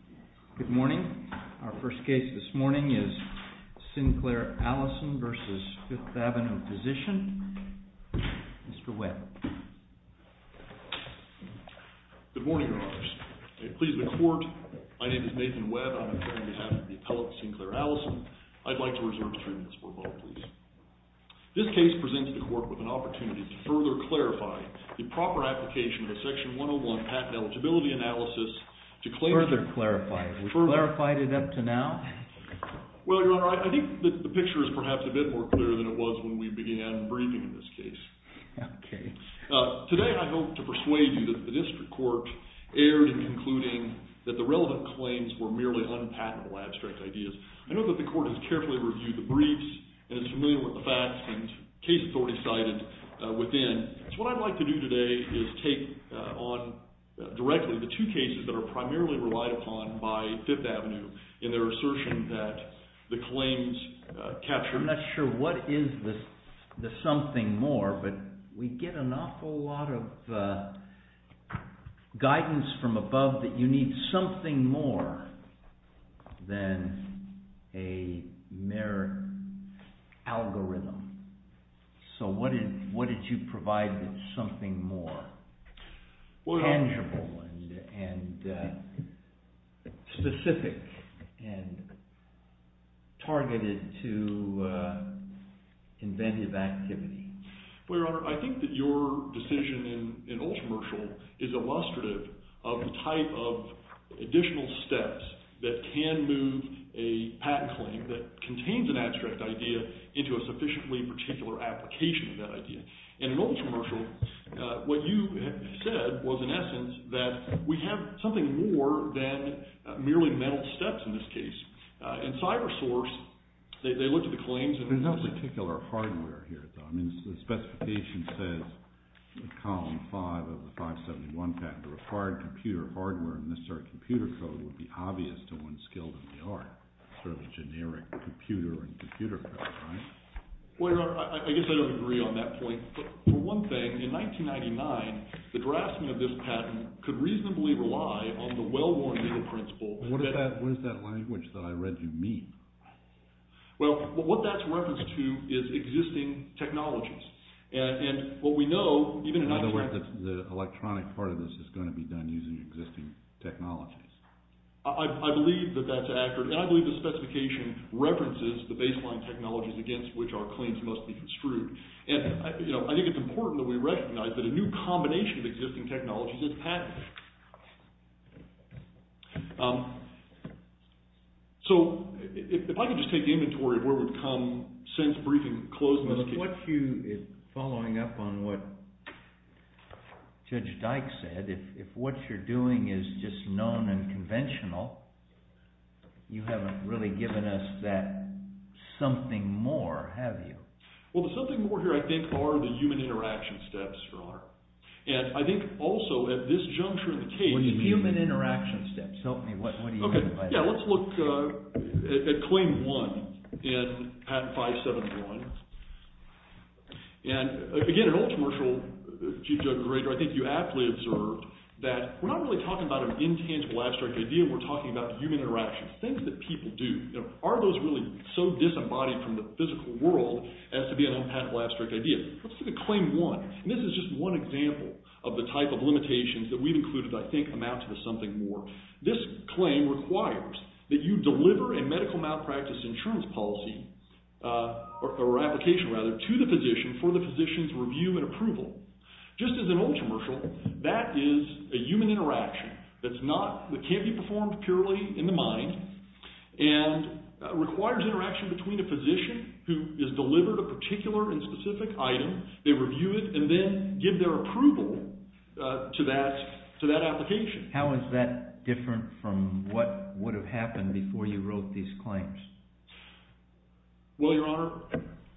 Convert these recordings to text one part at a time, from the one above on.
M. WEBB Good morning. Our first case this morning is Sinclair-Allison v. Fifth Ave. of Physician. Mr. Webb. M. WEBB Good morning, Your Honors. It pleases the Court, my name is Nathan Webb. I'm here on behalf of the appellate Sinclair-Allison. I'd like to reserve a few minutes for a vote, please. This case presents the Court with an opportunity to further clarify the proper application of a Section 101 patent eligibility analysis to claim... M. WEBB Further clarify. Have we clarified it up to now? M. WEBB Well, Your Honor, I think the picture is perhaps a bit more clear than it was when we began briefing in this case. M. WEBB Okay. M. WEBB Today I hope to persuade you that the district court erred in concluding that the relevant claims were merely unpatentable abstract ideas. I know that the Court has carefully reviewed the briefs and is familiar with the facts and case authority cited within. So what I'd like to do today is take on directly the two cases that are primarily relied upon by Fifth Avenue in their assertion that the claims captured... a mere algorithm. So what did you provide that's something more tangible and specific and targeted to inventive activity? M. WEBB Well, Your Honor, I think that your decision in Ultramershal is illustrative of the type of additional steps that can move a patent claim that contains an abstract idea into a sufficiently particular application of that idea. And in Ultramershal, what you said was in essence that we have something more than merely mental steps in this case. In CyberSource, they looked at the claims... M. WEBB There's no particular hardware here, though. I mean, the specification says in column 5 of the 571 patent, the required computer hardware and necessary computer code would be obvious to one skilled in the art. Sort of a generic computer and computer code, right? M. WEBB Well, Your Honor, I guess I don't agree on that point. For one thing, in 1999, the drafting of this patent could reasonably rely on the well-worn legal principle... M. WEBB What is that language that I read you mean? M. WEBB Well, what that's referenced to is existing technologies. And what we know, even in... M. WEBB By the way, the electronic part of this is going to be done using existing technologies. M. WEBB I believe that that's accurate, and I believe the specification references the baseline technologies against which our claims must be construed. And I think it's important that we recognize that a new combination of existing technologies is patented. M. WEBB So, if I could just take inventory of where we've come since briefing closed in this case... M. WEBB What you, following up on what Judge Dyke said, if what you're doing is just known and conventional, you haven't really given us that something more, have you? M. WEBB Well, the something more here, I think, are the human interaction steps, Your Honor. M. WEBB And I think, also, at this juncture in the case... M. WEBB Human interaction steps. Help me. What do you mean by that? M. WEBB Yeah, let's look at Claim 1 in Patent 571. And, again, an old commercial, Chief Judge Greger, I think you aptly observed that we're not really talking about an intangible, abstract idea. We're talking about human interaction, things that people do. Are those really so disembodied from the physical world as to be an unpatentable, abstract idea? Let's look at Claim 1. And this is just one example of the type of limitations that we've included, I think, amount to the something more. This claim requires that you deliver a medical malpractice insurance policy, or application, rather, to the physician for the physician's review and approval. Just as an old commercial, that is a human interaction that can't be performed purely in the mind and requires interaction between a physician who has delivered a particular and specific item. They review it and then give their approval to that application. M. WEBB How is that different from what would have happened before you wrote these claims? M. WEBB Well, Your Honor,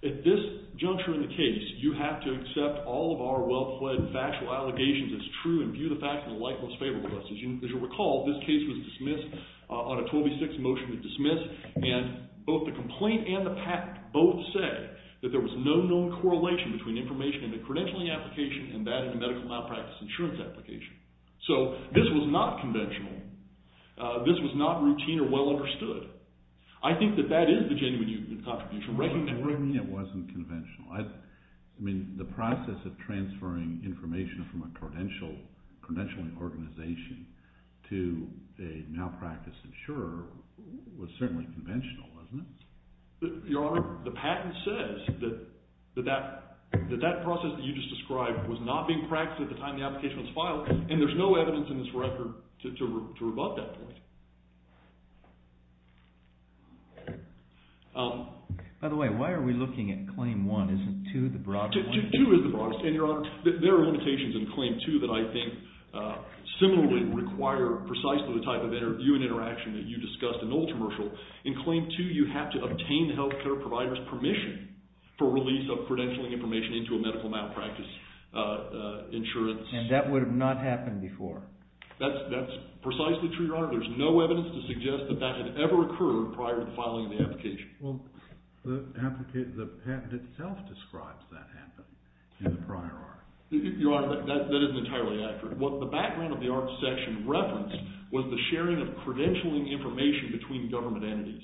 at this juncture in the case, you have to accept all of our well-fled factual allegations as true and view the facts in the light most favorable to us. As you recall, this case was dismissed on a 12 v. 6 motion to dismiss. And both the complaint and the patent both say that there was no known correlation between information in the credentialing application and that in the medical malpractice insurance application. So this was not conventional. This was not routine or well understood. I think that that is the genuine contradiction. M. WEBB To me, it wasn't conventional. I mean, the process of transferring information from a credentialing organization to a malpractice insurer was certainly conventional, wasn't it? M. WEBB Your Honor, the patent says that that process that you just described was not being practiced at the time the application was filed, and there's no evidence in this record to rebut that point. By the way, why are we looking at Claim 1? Isn't 2 the broadest one? M. WEBB 2 is the broadest, and Your Honor, there are limitations in Claim 2 that I think similarly require precisely the type of interview and interaction that you discussed in Old Commercial. In Claim 2, you have to obtain the health care provider's permission for release of credentialing information into a medical malpractice insurance. M. WEBB And that would have not happened before. M. WEBB That's precisely true, Your Honor. There's no evidence to suggest that that had ever occurred prior to the filing of the application. M. WEBB Well, the patent itself describes that happening in the prior art. M. WEBB Your Honor, that isn't entirely accurate. What the background of the art section referenced was the sharing of credentialing information between government entities.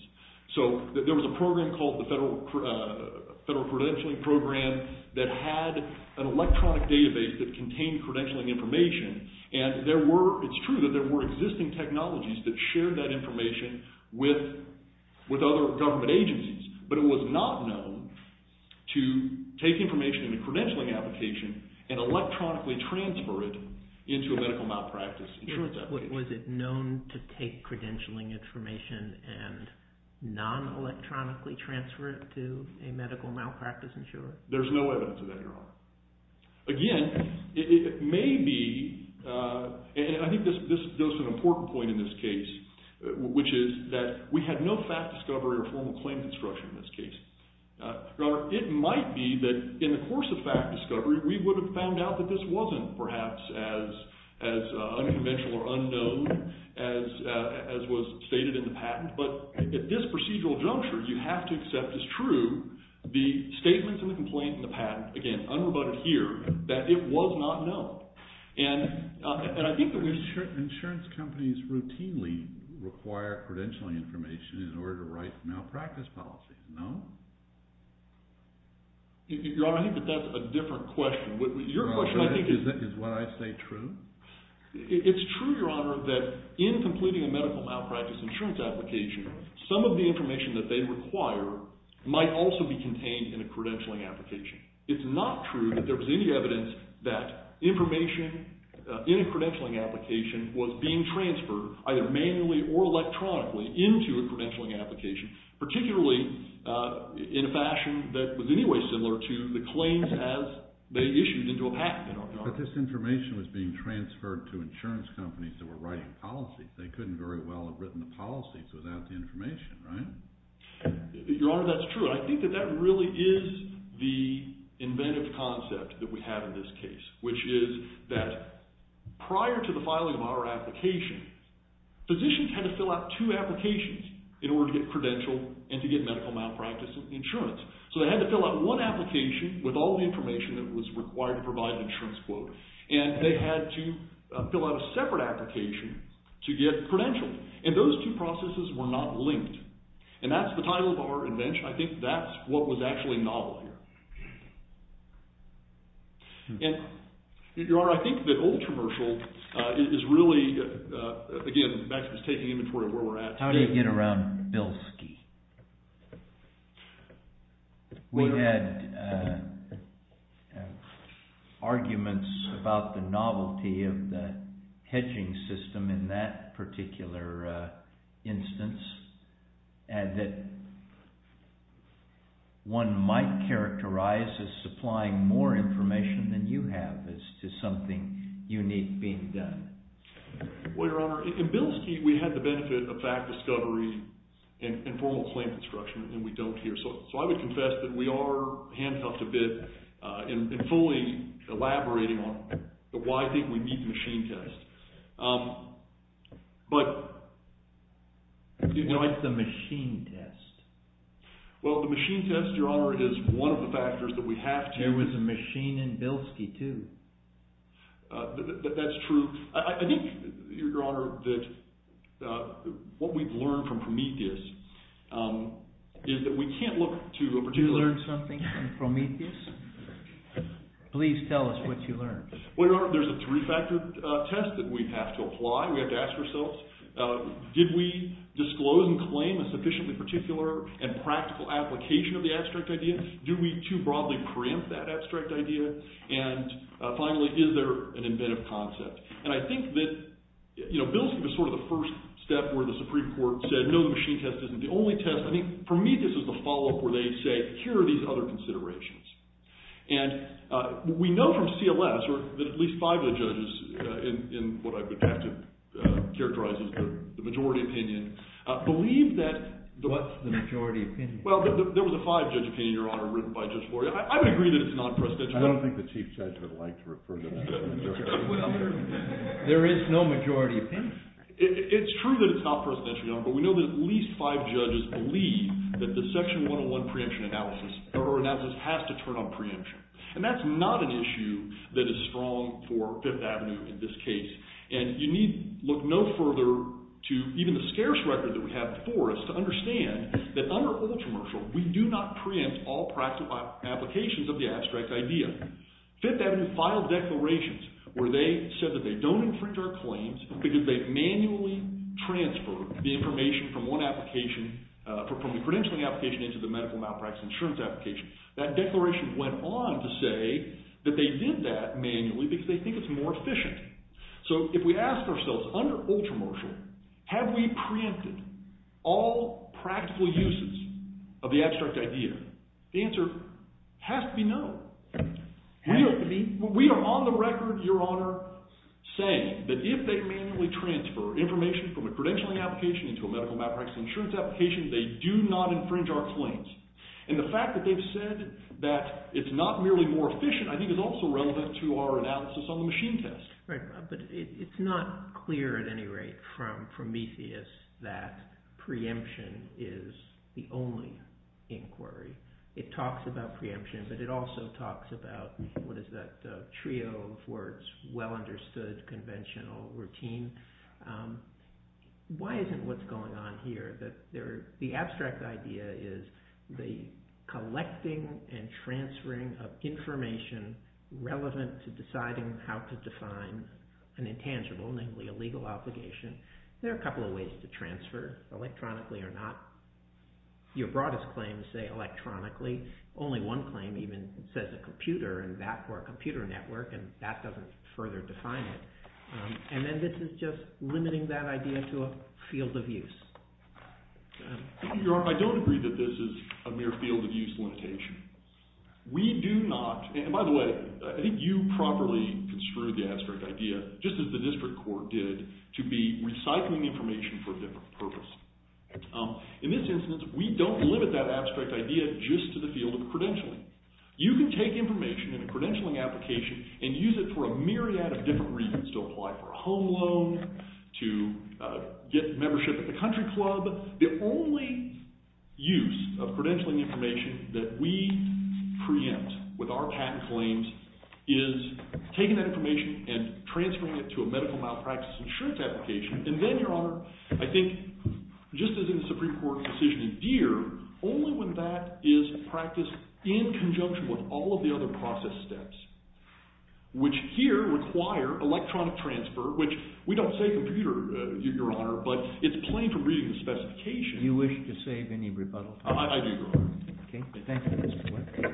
There was a program called the Federal Credentialing Program that had an electronic database that contained credentialing information. It's true that there were existing technologies that shared that information with other government agencies, but it was not known to take information in a credentialing application and electronically transfer it into a medical malpractice insurance application. Was it known to take credentialing information and non-electronically transfer it to a medical malpractice insurance? M. WEBB There's no evidence of that, Your Honor. Again, it may be, and I think this is an important point in this case, which is that we had no fact discovery or formal claim construction in this case. Your Honor, it might be that in the course of fact discovery, we would have found out that this wasn't perhaps as unconventional or unknown as was stated in the patent. But at this procedural juncture, you have to accept as true the statements in the complaint and the patent, again, unrebutted here, that it was not known. And I think that we've… J. R. R. Martin Insurance companies routinely require credentialing information in order to write malpractice policies, no? M. WEBB Your Honor, I think that that's a different question. Your question, I think… J. R. R. Martin Is what I say true? M. WEBB It's true, Your Honor, that in completing a medical malpractice insurance application, some of the information that they require might also be contained in a credentialing application. It's not true that there was any evidence that information in a credentialing application was being transferred either manually or electronically into a credentialing application, particularly in a fashion that was in any way similar to the claims as they issued into a patent. J. R. R. Martin But this information was being transferred to insurance companies that were writing policies. They couldn't very well have written the policies without the information, right? M. WEBB Your Honor, that's true. I think that that really is the inventive concept that we have in this case, which is that prior to the filing of our application, physicians had to fill out two applications in order to get credentialed and to get medical malpractice insurance. So they had to fill out one application with all the information that was required to provide an insurance quote, and they had to fill out a separate application to get credentialed. And those two processes were not linked. And that's the title of our invention. I think that's what was actually novel here. And, Your Honor, I think the old commercial is really, again, Max was taking inventory of where we're at. J. R. R. Martin How did it get around Bilski? J. R. R. Martin We had arguments about the novelty of the hedging system in that particular instance and that one might characterize as supplying more information than you have as to something unique being done. M. WEBB Well, Your Honor, in Bilski, we had the benefit of fact discovery and formal claim construction, and we don't here. So I would confess that we are handcuffed a bit in fully elaborating on why I think we need the machine test. J. R. R. Martin What's the machine test? M. WEBB Well, the machine test, Your Honor, is one of the factors that we have to… J. R. R. Martin There was a machine in Bilski, too. M. WEBB That's true. I think, Your Honor, that what we've learned from Prometheus is that we can't look to a particular… J. R. R. Martin You learned something from Prometheus? Please tell us what you learned. M. WEBB Well, Your Honor, there's a three-factor test that we have to apply. We have to ask ourselves, did we disclose and claim a sufficiently particular and practical application of the abstract idea? Do we too broadly preempt that abstract idea? And finally, is there an inventive concept? And I think that, you know, Bilski was sort of the first step where the Supreme Court said, no, the machine test isn't the only test. I think, for me, this is the follow-up where they say, here are these other considerations. And we know from CLS that at least five of the judges, in what I would have to characterize as the majority opinion, believe that… J. R. R. Martin What's the majority opinion? M. WEBB Well, there was a five-judge opinion, Your Honor, written by Judge Gloria. I would agree that it's non-presidential. J. R. R. Martin I don't think the Chief Judge would like to refer to that. J. R. R. Martin There is no majority opinion. It's true that it's not presidential, Your Honor, but we know that at least five judges believe that the Section 101 preemption analysis or analysis has to turn on preemption. And that's not an issue that is strong for Fifth Avenue in this case. And you need look no further to even the scarce record that we have before us to understand that under ultra-martial, we do not preempt all practical applications of the abstract idea. Fifth Avenue filed declarations where they said that they don't infringe our claims because they manually transfer the information from one application, from the credentialing application into the medical malpractice insurance application. That declaration went on to say that they did that manually because they think it's more efficient. So if we ask ourselves, under ultra-martial, have we preempted all practical uses of the abstract idea, the answer has to be no. We are on the record, Your Honor, saying that if they manually transfer information from a credentialing application into a medical malpractice insurance application, they do not infringe our claims. And the fact that they've said that it's not merely more efficient I think is also relevant to our analysis on the machine test. Right, but it's not clear at any rate from Methius that preemption is the only inquiry. It talks about preemption, but it also talks about what is that trio of words, well-understood conventional routine. Why isn't what's going on here that the abstract idea is the collecting and transferring of information relevant to deciding how to define an intangible, namely a legal obligation. There are a couple of ways to transfer, electronically or not. Your broadest claims say electronically. Only one claim even says a computer or a computer network, and that doesn't further define it. And then this is just limiting that idea to a field of use. Your Honor, I don't agree that this is a mere field of use limitation. We do not, and by the way, I think you properly construed the abstract idea just as the district court did, to be recycling information for a different purpose. In this instance, we don't limit that abstract idea just to the field of credentialing. You can take information in a credentialing application and use it for a myriad of different reasons, to apply for a home loan, to get membership at the country club. The only use of credentialing information that we preempt with our patent claims is taking that information and transferring it to a medical malpractice insurance application. And then, Your Honor, I think just as in the Supreme Court's decision in Deere, only when that is practiced in conjunction with all of the other process steps, which here require electronic transfer, which we don't say computer, Your Honor, but it's plain for reading the specification. Do you wish to save any rebuttal? I do, Your Honor. Okay, thank you, Mr. Black. Mr.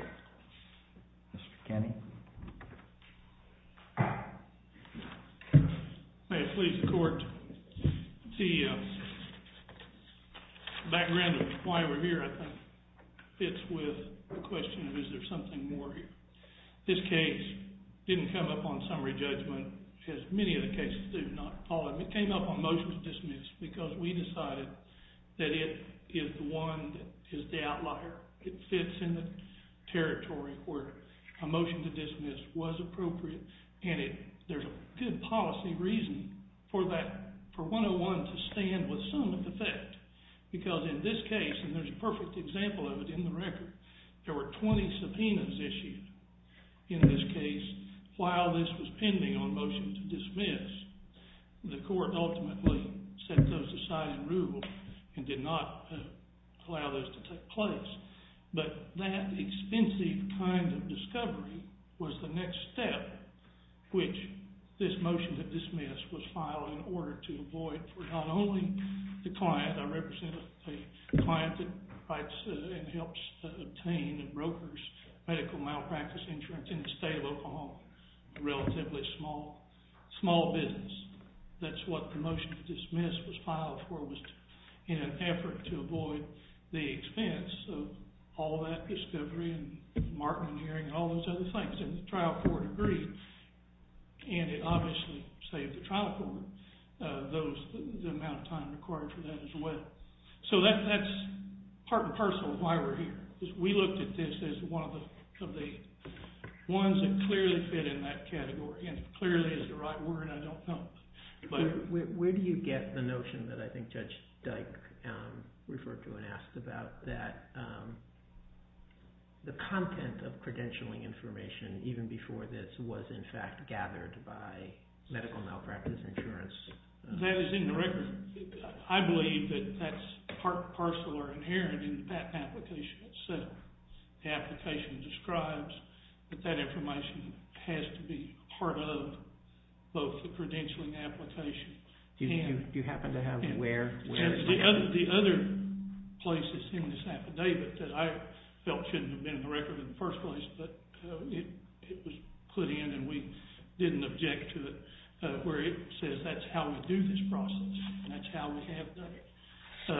Kenney. May it please the court. The background of why we're here, I think, fits with the question of is there something more here. This case didn't come up on summary judgment, as many of the cases do, not all of them. It came up on motion to dismiss because we decided that it is the one that is the outlier. It fits in the territory where a motion to dismiss was appropriate, and there's a good policy reason for 101 to stand with some of the fact. Because in this case, and there's a perfect example of it in the record, there were 20 subpoenas issued. In this case, while this was pending on motion to dismiss, the court ultimately set those aside and ruled and did not allow this to take place. But that expensive kind of discovery was the next step, which this motion to dismiss was filed in order to avoid for not only the client. I represent a client that writes and helps obtain and brokers medical malpractice insurance in the state of Oklahoma, a relatively small business. That's what the motion to dismiss was filed for, was in an effort to avoid the expense of all that discovery and marking and hearing and all those other things. And the trial court agreed, and it obviously saved the trial court the amount of time required for that as well. So that's part and parcel of why we're here. We looked at this as one of the ones that clearly fit in that category, and clearly is the right word. I don't know. But where do you get the notion that I think Judge Dyke referred to and asked about that the content of credentialing information, even before this, was in fact gathered by medical malpractice insurance? That is in the record. I believe that that's part and parcel or inherent in the patent application itself. The application describes that that information has to be part of both the credentialing application. Do you happen to have where? The other place that's in this affidavit that I felt shouldn't have been in the record in the first place, but it was put in and we didn't object to it, where it says that's how we do this process and that's how we have done it. So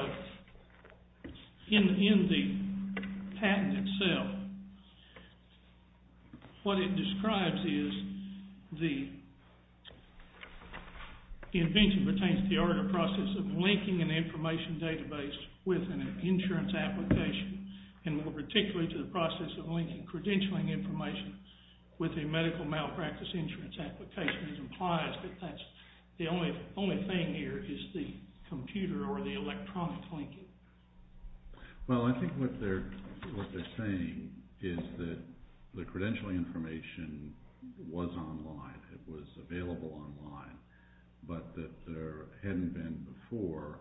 in the patent itself, what it describes is the invention pertains to the order of process of linking an information database with an insurance application, and more particularly to the process of linking credentialing information with a medical malpractice insurance application. It implies that that's the only thing here is the computer or the electronic linking. Well, I think what they're saying is that the credentialing information was online, it was available online, but that there hadn't been before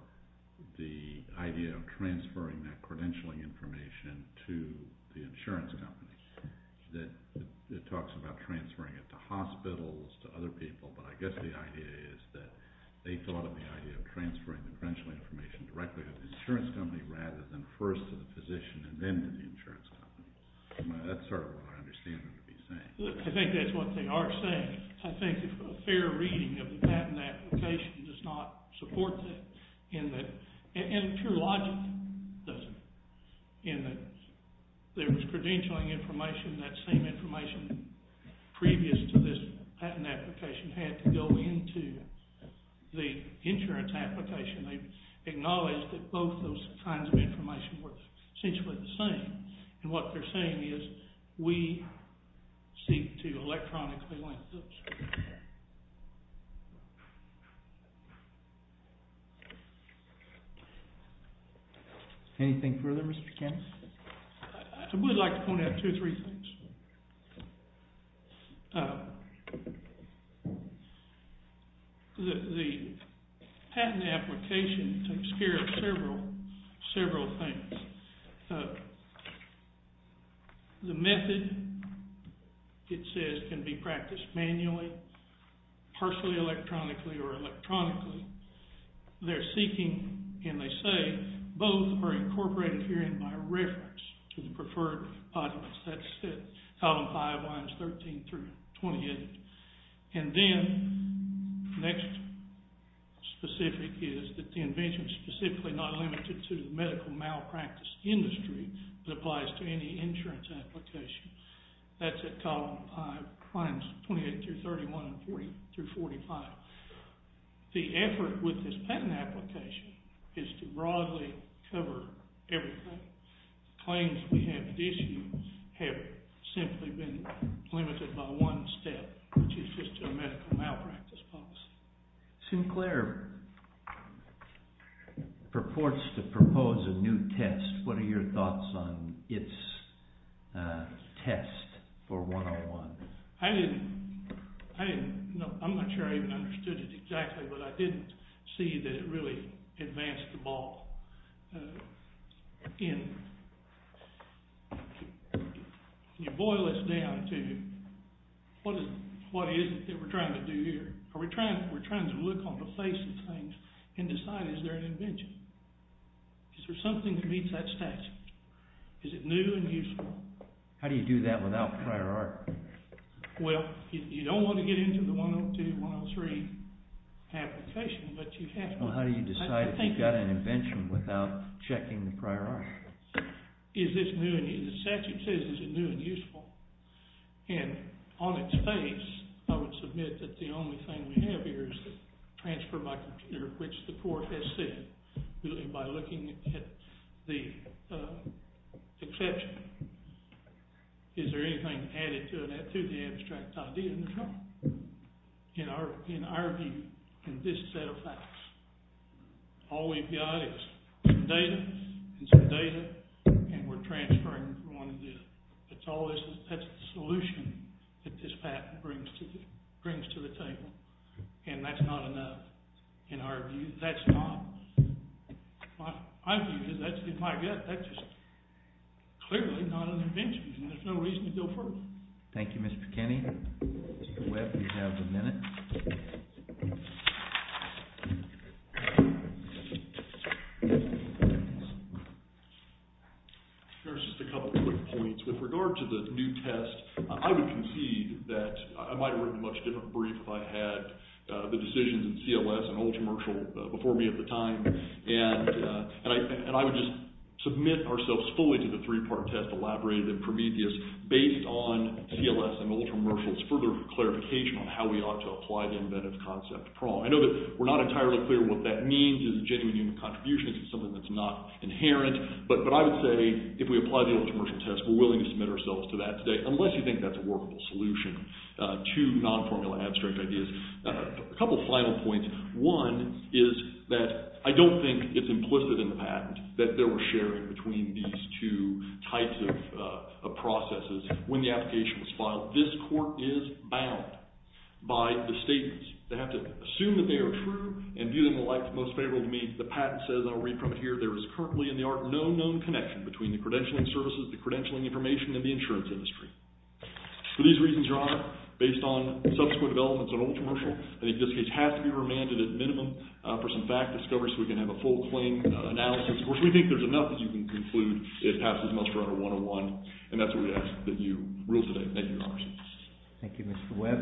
the idea of transferring that credentialing information to the insurance company. It talks about transferring it to hospitals, to other people, but I guess the idea is that they thought of the idea of transferring the credentialing information directly to the insurance company rather than first to the physician and then to the insurance company. That's sort of what I understand what they're saying. I think that's what they are saying. I think a fair reading of the patent application does not support that, and pure logic doesn't. In that there was credentialing information, that same information previous to this patent application had to go into the insurance application. They've acknowledged that both those kinds of information were essentially the same, and what they're saying is we seek to electronically link those. Anything further, Mr. Kennedy? I would like to point out two or three things. The patent application takes care of several things. The method, it says, can be practiced manually, partially electronically or electronically. They're seeking, and they say, both are incorporated herein by reference to the preferred documents. That's column 5, lines 13 through 28. And then the next specific is that the invention is specifically not limited to the medical malpractice industry but applies to any insurance application. That's at column 5, lines 28 through 31 and 40 through 45. The effort with this patent application is to broadly cover everything. Claims we have issued have simply been limited by one step, which is just to a medical malpractice policy. Sinclair purports to propose a new test. What are your thoughts on its test for 101? I didn't – no, I'm not sure I even understood it exactly, but I didn't see that it really advanced the ball. You boil this down to what is it that we're trying to do here? Are we trying – we're trying to look on the face of things and decide is there an invention? Is there something that meets that statute? Is it new and useful? How do you do that without prior art? Well, you don't want to get into the 102, 103 application, but you have to. Well, how do you decide if you've got an invention without checking the prior art? Is this new and – the statute says is it new and useful. And on its face, I would submit that the only thing we have here is the transfer by computer, which the court has said. And by looking at the exception, is there anything added to that, to the abstract idea? No. In our view, in this set of facts, all we've got is some data and some data, and we're transferring what we want to do. It's always – that's the solution that this patent brings to the table, and that's not enough. In our view, that's not – my view is that's in my gut. That's just clearly not an invention, and there's no reason to go further. Thank you, Mr. McKinney. Mr. Webb, you have the minute. Here's just a couple quick points. With regard to the new test, I would concede that I might have written a much different brief if I had the decisions in CLS and Ultramershal before me at the time. And I would just submit ourselves fully to the three-part test elaborated at Prometheus based on CLS and Ultramershal's further clarification on how we ought to apply the inventive concept. I know that we're not entirely clear what that means as a genuine human contribution. It's something that's not inherent. But I would say if we apply the Ultramershal test, we're willing to submit ourselves to that today, unless you think that's a workable solution to non-formula abstract ideas. A couple final points. One is that I don't think it's implicit in the patent that there was sharing between these two types of processes when the application was filed. This court is bound by the statements. They have to assume that they are true and view them in the light that's most favorable to me. The patent says, and I'll read from it here, there is currently in the art no known connection between the credentialing services, the credentialing information, and the insurance industry. For these reasons, Your Honor, based on subsequent developments on Ultramershal, I think this case has to be remanded at minimum for some fact discovery so we can have a full claim analysis. Of course, we think there's enough that you can conclude it passes muster under 101. And that's what we ask that you rule today. Thank you, Your Honor. Thank you, Mr. Webb.